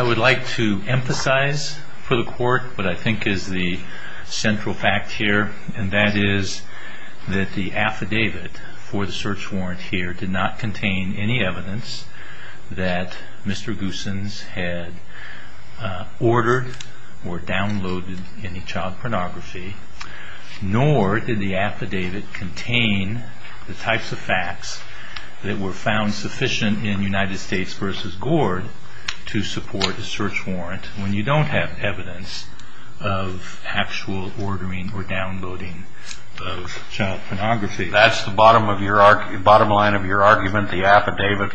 I would like to emphasize for the court what I think is the central fact here and that is that the affidavit for the search warrant here did not contain any evidence that Mr. Goossens had ordered or downloaded any child pornography. Nor did the affidavit contain the types of facts that were found sufficient in United States v. Gord to support a search warrant when you don't have evidence of actual ordering or downloading of child pornography. That's the bottom line of your argument. The affidavit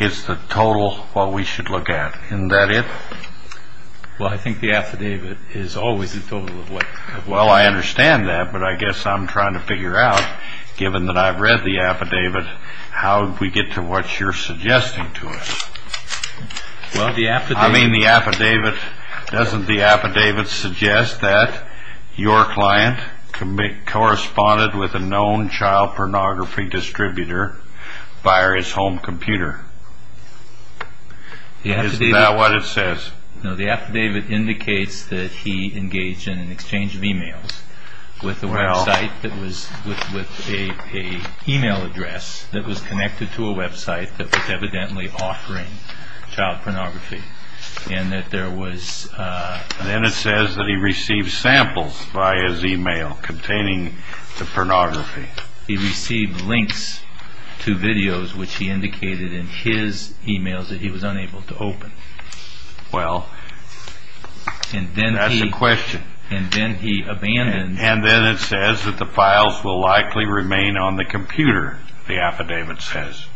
is the total of what we should look at. Isn't that it? Well, I think the affidavit is always the total of what we should look at. Well, I understand that, but I guess I'm trying to figure out, given that I've read the affidavit, how we get to what you're suggesting to us. I mean, doesn't the affidavit suggest that your client corresponded with a known child pornography distributor via his home computer? Isn't that what it says? No, the affidavit indicates that he engaged in an exchange of e-mails with an e-mail address that was connected to a website that was evidently offering child pornography. Then it says that he received samples via his e-mail containing the pornography. He received links to videos which he indicated in his e-mails that he was unable to open. Well, that's a question. And then he abandoned... And then it says that the files will likely remain on the computer, the affidavit says.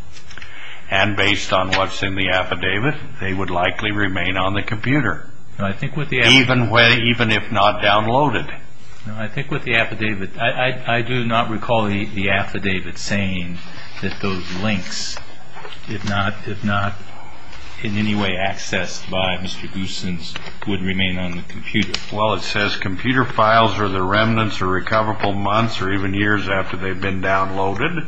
And based on what's in the affidavit, they would likely remain on the computer, even if not downloaded. I think with the affidavit, I do not recall the affidavit saying that those links, if not in any way accessed by Mr. Goossens, would remain on the computer. Well, it says computer files are the remnants of recoverable months or even years after they've been downloaded.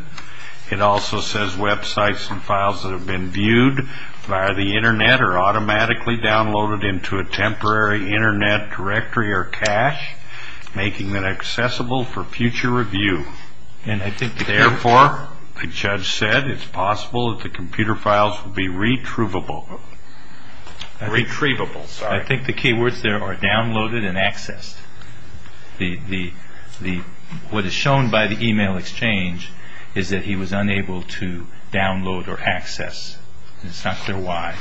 It also says websites and files that have been viewed via the Internet are automatically downloaded into a temporary Internet directory or cache, making them accessible for future review. Therefore, the judge said, it's possible that the computer files will be retrievable. I think the key words there are downloaded and accessed. What is shown by the e-mail exchange is that he was unable to download or access. It's not clear why.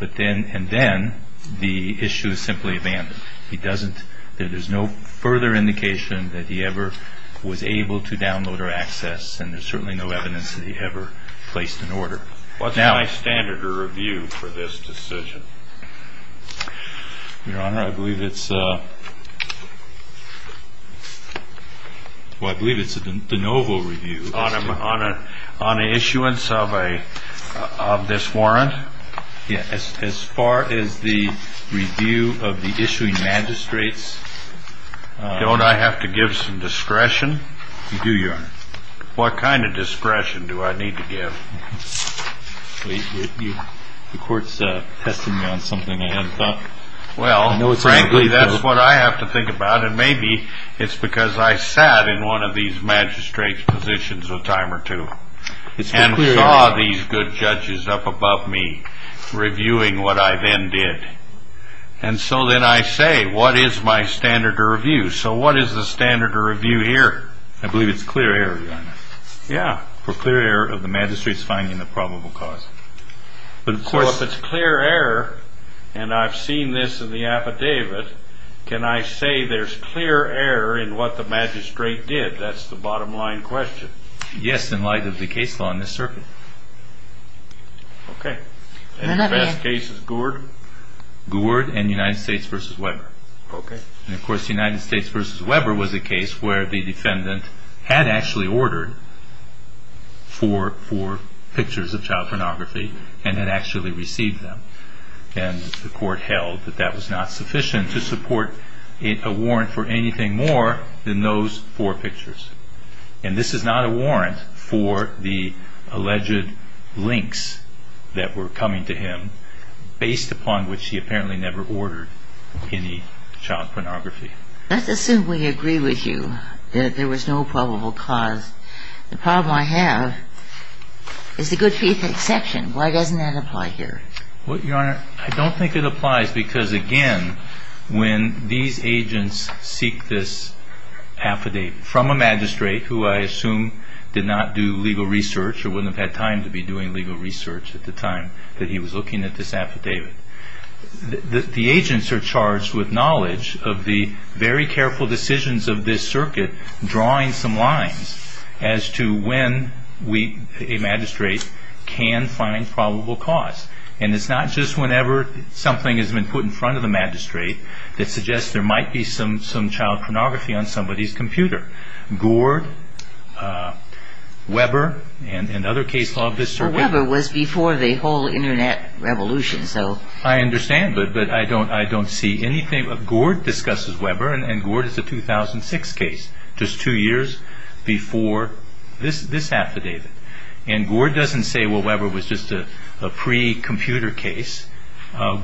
And then the issue is simply abandoned. There's no further indication that he ever was able to download or access, and there's certainly no evidence that he ever placed an order. What's my standard of review for this decision? Your Honor, I believe it's. Well, I believe it's the novel review on a on an issuance of a of this warrant. Yes. As far as the review of the issuing magistrates. Don't I have to give some discretion? You do your what kind of discretion do I need to give? The court's testing me on something I hadn't thought. Well, no, frankly, that's what I have to think about. And maybe it's because I sat in one of these magistrates positions a time or two and saw these good judges up above me reviewing what I then did. And so then I say, what is my standard of review? So what is the standard of review here? I believe it's clear. Yeah. For clear error of the magistrates finding the probable cause. But of course, it's clear error. And I've seen this in the affidavit. Can I say there's clear error in what the magistrate did? That's the bottom line question. Yes. In light of the case law in this circuit. OK. And the best case is Gouard. Gouard and United States versus Weber. OK. And of course, the United States versus Weber was a case where the defendant had actually ordered four pictures of child pornography and had actually received them. And the court held that that was not sufficient to support a warrant for anything more than those four pictures. And this is not a warrant for the alleged links that were coming to him, based upon which he apparently never ordered any child pornography. Let's assume we agree with you that there was no probable cause. The problem I have is the good faith exception. Why doesn't that apply here? Well, Your Honor, I don't think it applies because, again, when these agents seek this affidavit from a magistrate who I assume did not do legal research or wouldn't have had time to be doing legal research at the time that he was looking at this affidavit. The agents are charged with knowledge of the very careful decisions of this circuit, drawing some lines as to when a magistrate can find probable cause. And it's not just whenever something has been put in front of the magistrate that suggests there might be some child pornography on somebody's computer. Gord, Weber, and other cases of this circuit. Well, Weber was before the whole Internet revolution, so. I understand, but I don't see anything. Gord discusses Weber, and Gord is a 2006 case, just two years before this affidavit. And Gord doesn't say, well, Weber was just a pre-computer case.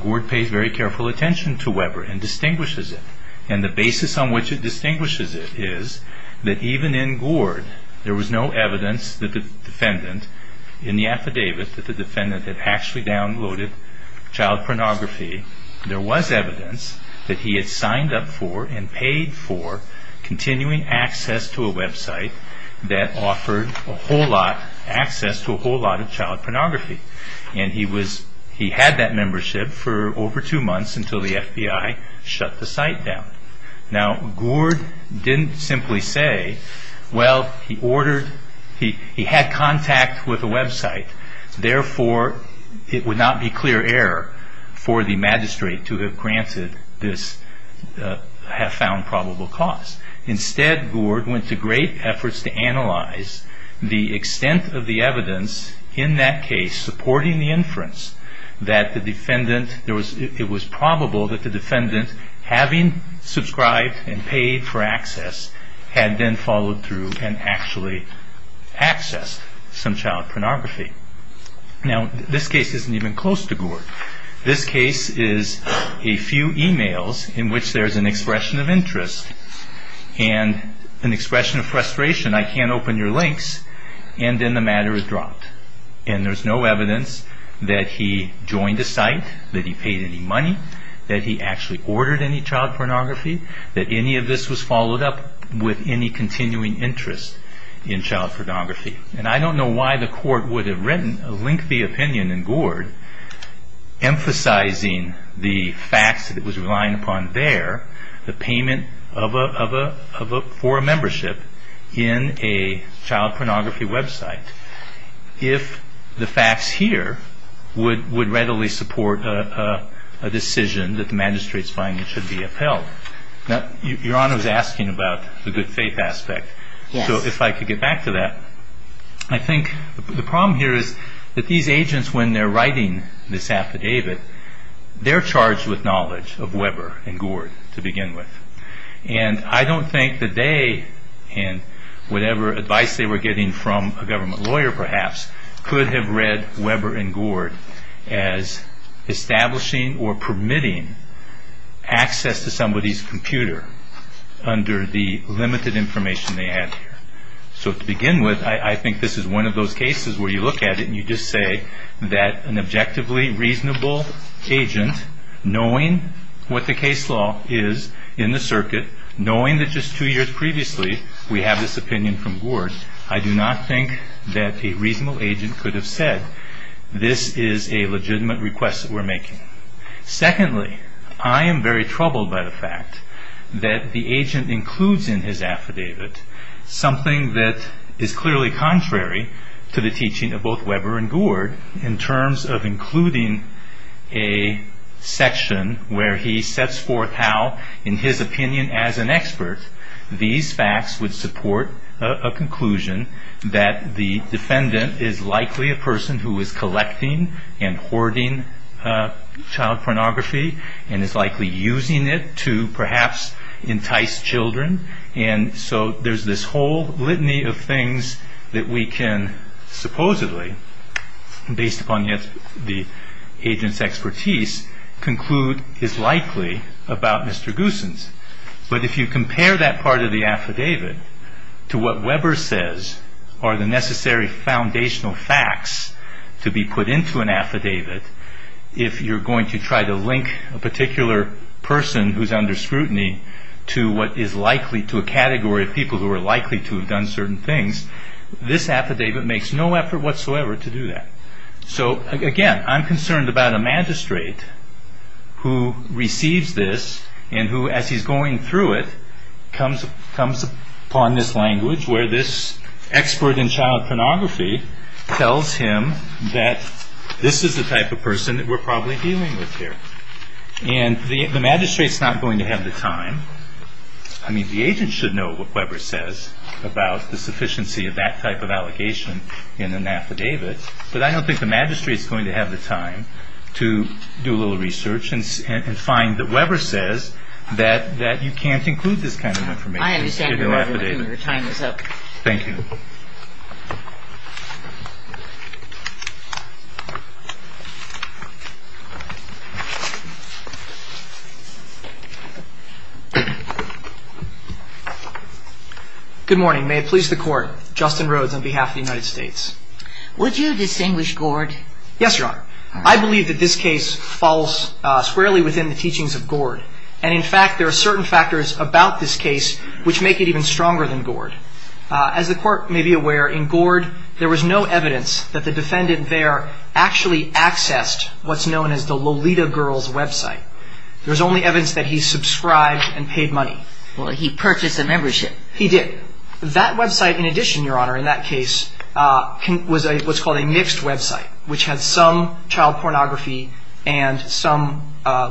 Gord pays very careful attention to Weber and distinguishes it. And the basis on which it distinguishes it is that even in Gord, there was no evidence that the defendant in the affidavit, that the defendant had actually downloaded child pornography. There was evidence that he had signed up for and paid for continuing access to a website that offered a whole lot, access to a whole lot of child pornography. And he was, he had that membership for over two months until the FBI shut the site down. Now, Gord didn't simply say, well, he ordered, he had contact with a website. Therefore, it would not be clear error for the magistrate to have granted this, have found probable cause. Instead, Gord went to great efforts to analyze the extent of the evidence in that case supporting the inference that the defendant, it was probable that the defendant, having subscribed and paid for access, had then followed through and actually accessed some child pornography. Now, this case isn't even close to Gord. This case is a few emails in which there's an expression of interest and an expression of frustration. I can't open your links. And then the matter is dropped. And there's no evidence that he joined a site, that he paid any money, that he actually ordered any child pornography, that any of this was followed up with any continuing interest in child pornography. And I don't know why the court would have written a lengthy opinion in Gord emphasizing the facts that it was relying upon there, the payment for a membership in a child pornography website, if the facts here would readily support a decision that the magistrate's finding should be upheld. Now, Your Honor is asking about the good faith aspect. So if I could get back to that. I think the problem here is that these agents, when they're writing this affidavit, they're charged with knowledge of Weber and Gord to begin with. And I don't think that they, and whatever advice they were getting from a government lawyer perhaps, could have read Weber and Gord as establishing or permitting access to somebody's computer under the limited information they had here. So to begin with, I think this is one of those cases where you look at it and you just say that an objectively reasonable agent, knowing what the case law is in the circuit, knowing that just two years previously we have this opinion from Gord, I do not think that a reasonable agent could have said, this is a legitimate request that we're making. Secondly, I am very troubled by the fact that the agent includes in his affidavit something that is clearly contrary to the teaching of both Weber and Gord in terms of including a section where he sets forth how, in his opinion as an expert, these facts would support a conclusion that the defendant is likely a person who is collecting and hoarding child pornography and is likely using it to perhaps entice children. And so there's this whole litany of things that we can supposedly, based upon the agent's expertise, conclude is likely about Mr. Goossens. But if you compare that part of the affidavit to what Weber says are the necessary foundational facts to be put into an affidavit, if you're going to try to link a particular person who's under scrutiny to what is likely to a category of people who are likely to have done certain things, this affidavit makes no effort whatsoever to do that. So again, I'm concerned about a magistrate who receives this and who, as he's going through it, comes upon this language where this expert in child pornography tells him that this is the type of person that we're probably dealing with here. And the magistrate's not going to have the time. I mean, the agent should know what Weber says about the sufficiency of that type of allegation in an affidavit. But I don't think the magistrate's going to have the time to do a little research and find that Weber says that you can't include this kind of information in your affidavit. I understand your point. Your time is up. Thank you. Good morning. May it please the Court. Justin Rhodes on behalf of the United States. Would you distinguish Gord? Yes, Your Honor. I believe that this case falls squarely within the teachings of Gord. And in fact, there are certain factors about this case which make it even stronger than Gord. As the Court may be aware, in Gord there was no evidence that the defendant there actually accessed what's known as the Lolita Girls website. There was only evidence that he subscribed and paid money. Well, he purchased a membership. He did. That website, in addition, Your Honor, in that case, was what's called a mixed website, which has some child pornography and some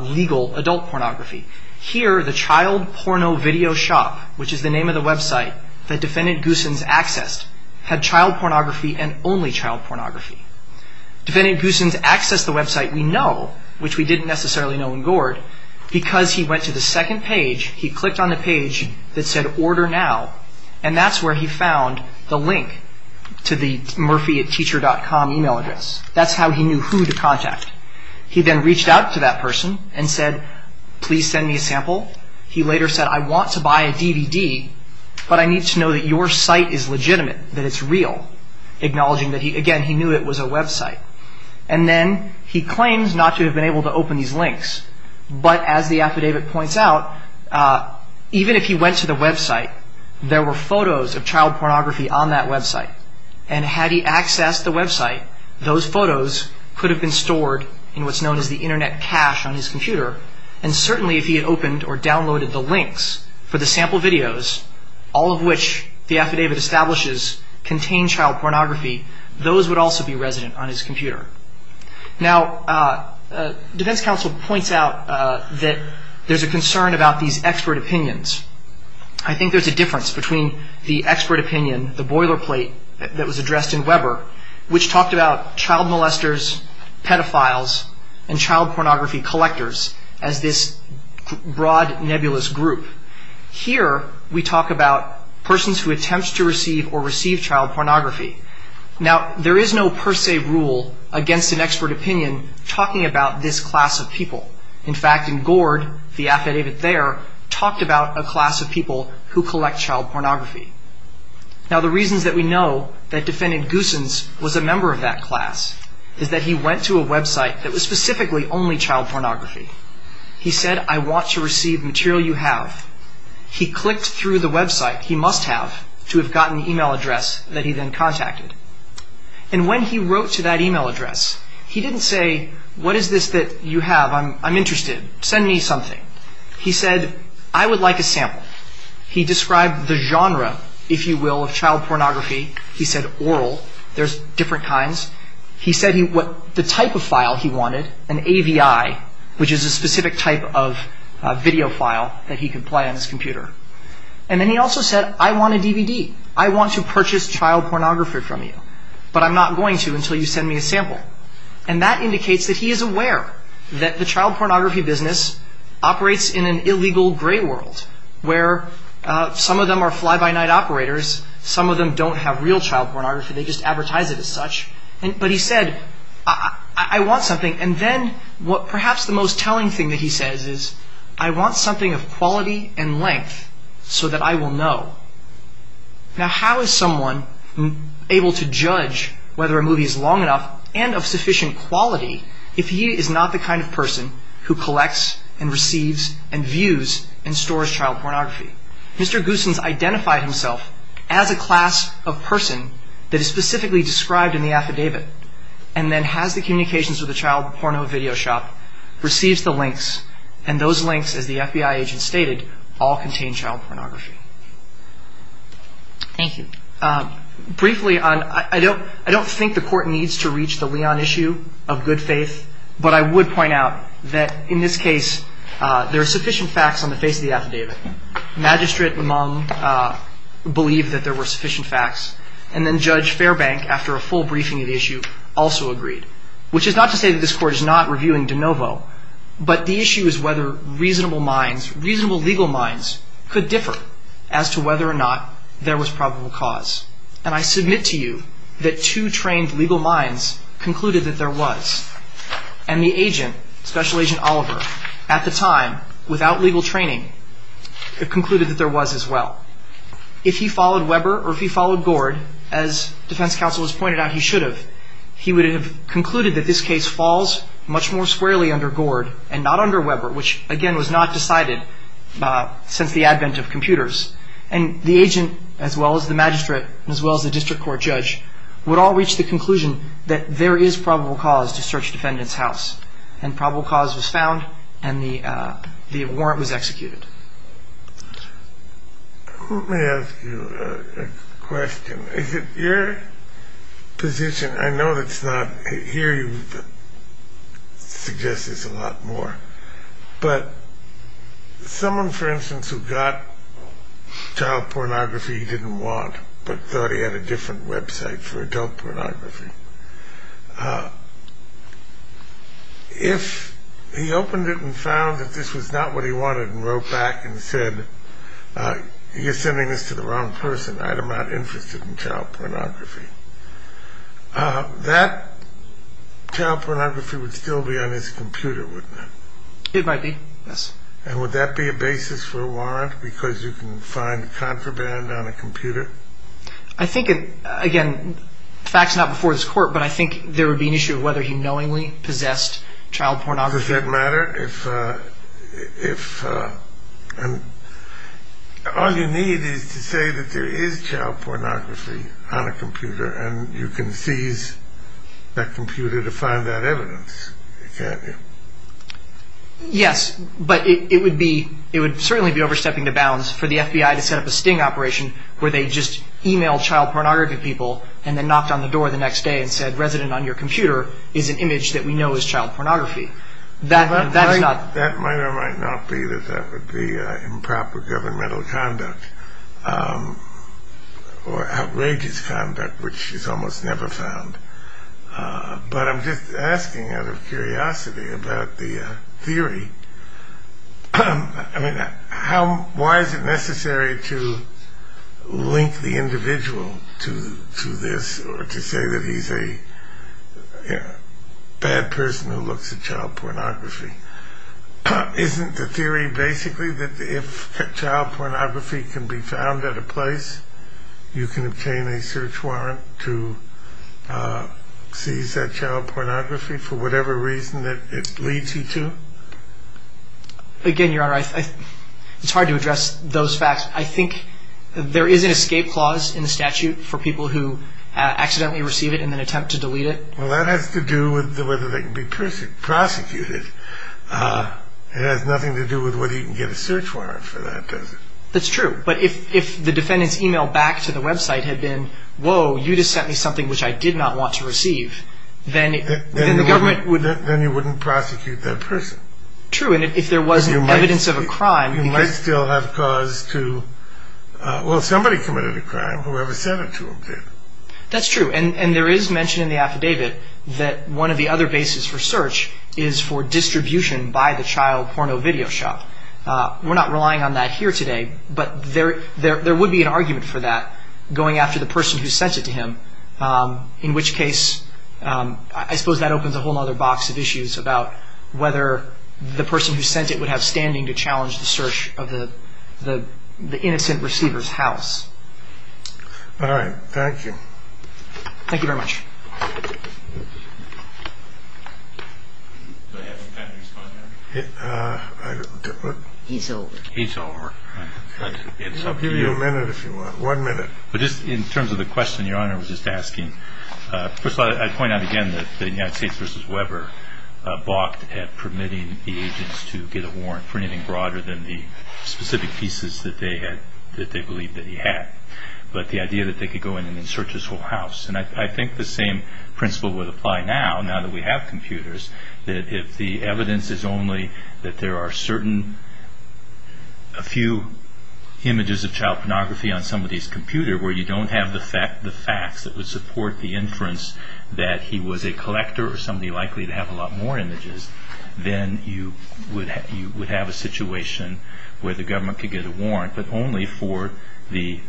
legal adult pornography. Here, the Child Porno Video Shop, which is the name of the website that Defendant Goossens accessed, had child pornography and only child pornography. Defendant Goossens accessed the website we know, which we didn't necessarily know in Gord, because he went to the second page, he clicked on the page that said Order Now, and that's where he found the link to the murphyatteacher.com email address. That's how he knew who to contact. He then reached out to that person and said, Please send me a sample. He later said, I want to buy a DVD, but I need to know that your site is legitimate, that it's real, acknowledging that, again, he knew it was a website. And then he claims not to have been able to open these links, but as the affidavit points out, even if he went to the website, there were photos of child pornography on that website, and had he accessed the website, those photos could have been stored in what's known as the Internet cache on his computer, and certainly if he had opened or downloaded the links for the sample videos, all of which the affidavit establishes contain child pornography, those would also be resident on his computer. Now, defense counsel points out that there's a concern about these expert opinions. I think there's a difference between the expert opinion, the boilerplate that was addressed in Weber, which talked about child molesters, pedophiles, and child pornography collectors as this broad, nebulous group. Here, we talk about persons who attempt to receive or receive child pornography. Now, there is no per se rule against an expert opinion talking about this class of people. In fact, in Gord, the affidavit there talked about a class of people who collect child pornography. Now, the reasons that we know that defendant Goossens was a member of that class is that he went to a website that was specifically only child pornography. He said, I want to receive material you have. He clicked through the website he must have to have gotten the e-mail address that he then contacted. And when he wrote to that e-mail address, he didn't say, what is this that you have? I'm interested. Send me something. He said, I would like a sample. He described the genre, if you will, of child pornography. He said oral. There's different kinds. He said the type of file he wanted, an AVI, which is a specific type of video file that he could play on his computer. And then he also said, I want a DVD. I want to purchase child pornography from you, but I'm not going to until you send me a sample. And that indicates that he is aware that the child pornography business operates in an illegal gray world where some of them are fly-by-night operators. Some of them don't have real child pornography. They just advertise it as such. But he said, I want something. And then perhaps the most telling thing that he says is, I want something of quality and length so that I will know. Now, how is someone able to judge whether a movie is long enough and of sufficient quality if he is not the kind of person who collects and receives and views and stores child pornography? Mr. Goossens identified himself as a class of person that is specifically described in the affidavit and then has the communications with a child porno video shop, receives the links, and those links, as the FBI agent stated, all contain child pornography. Thank you. Briefly, I don't think the Court needs to reach the Leon issue of good faith, but I would point out that in this case there are sufficient facts on the face of the affidavit Magistrate LeMong believed that there were sufficient facts, and then Judge Fairbank, after a full briefing of the issue, also agreed. Which is not to say that this Court is not reviewing de novo, but the issue is whether reasonable minds, reasonable legal minds, could differ as to whether or not there was probable cause. And I submit to you that two trained legal minds concluded that there was. And the agent, Special Agent Oliver, at the time, without legal training, concluded that there was as well. If he followed Weber or if he followed Gord, as defense counsel has pointed out he should have, he would have concluded that this case falls much more squarely under Gord and not under Weber, which, again, was not decided since the advent of computers. And the agent, as well as the magistrate, as well as the district court judge, would all reach the conclusion that there is probable cause to search the defendant's house. And probable cause was found, and the warrant was executed. Let me ask you a question. Is it your position, I know it's not here you would suggest this a lot more, but someone, for instance, who got child pornography he didn't want, but thought he had a different website for adult pornography, if he opened it and found that this was not what he wanted and wrote back and said, you're sending this to the wrong person, I am not interested in child pornography, that child pornography would still be on his computer, wouldn't it? It might be, yes. And would that be a basis for a warrant? Because you can find contraband on a computer? I think, again, the fact is not before this court, but I think there would be an issue of whether he knowingly possessed child pornography. Does that matter? If, and all you need is to say that there is child pornography on a computer and you can seize that computer to find that evidence, can't you? Yes, but it would be, it would certainly be overstepping the bounds for the FBI to set up a sting operation where they just email child pornography people and then knocked on the door the next day and said, resident on your computer is an image that we know is child pornography. That is not... That might or might not be that that would be improper governmental conduct or outrageous conduct which is almost never found. But I'm just asking out of curiosity about the theory. I mean, why is it necessary to link the individual to this or to say that he's a bad person who looks at child pornography? Isn't the theory basically that if child pornography can be found at a place, you can obtain a search warrant to seize that child pornography for whatever reason that it leads you to? Again, Your Honor, it's hard to address those facts. I think there is an escape clause in the statute for people who accidentally receive it and then attempt to delete it. Well, that has to do with whether they can be prosecuted. It has nothing to do with whether you can get a search warrant for that, does it? That's true. But if the defendant's email back to the website had been, whoa, you just sent me something which I did not want to receive, then the government would... Then you wouldn't prosecute that person. True. And if there wasn't evidence of a crime... You might still have cause to... Well, somebody committed a crime, whoever sent it to him did. That's true. And there is mention in the affidavit that one of the other bases for search is for distribution by the child porno video shop. We're not relying on that here today, but there would be an argument for that going after the person who sent it to him, in which case I suppose that opens a whole other box of issues about whether the person who sent it would have standing to challenge the search of the innocent receiver's house. All right. Thank you. Thank you very much. Do I have some time to respond to that? He's over. He's over. I'll give you a minute if you want. One minute. But just in terms of the question Your Honor was just asking, first of all, I'd point out again that the United States v. Weber balked at permitting the agents to get a warrant for anything broader than the specific pieces that they believed that he had, but the idea that they could go in and search his whole house. And I think the same principle would apply now, now that we have computers, that if the evidence is only that there are certain, a few images of child pornography on somebody's computer where you don't have the facts that would support the inference that he was a collector or somebody likely to have a lot more images, then you would have a situation where the government could get a warrant, but only for the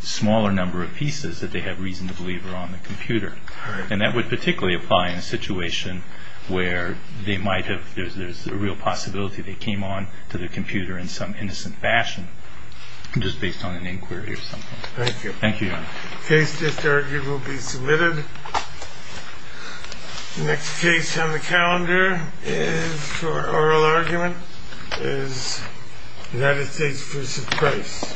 smaller number of pieces that they had reason to believe were on the computer. And that would particularly apply in a situation where they might have, there's a real possibility they came on to the computer in some innocent fashion, just based on an inquiry or something. Thank you. Thank you, Your Honor. The case just argued will be submitted. The next case on the calendar for oral argument is United States v. Price.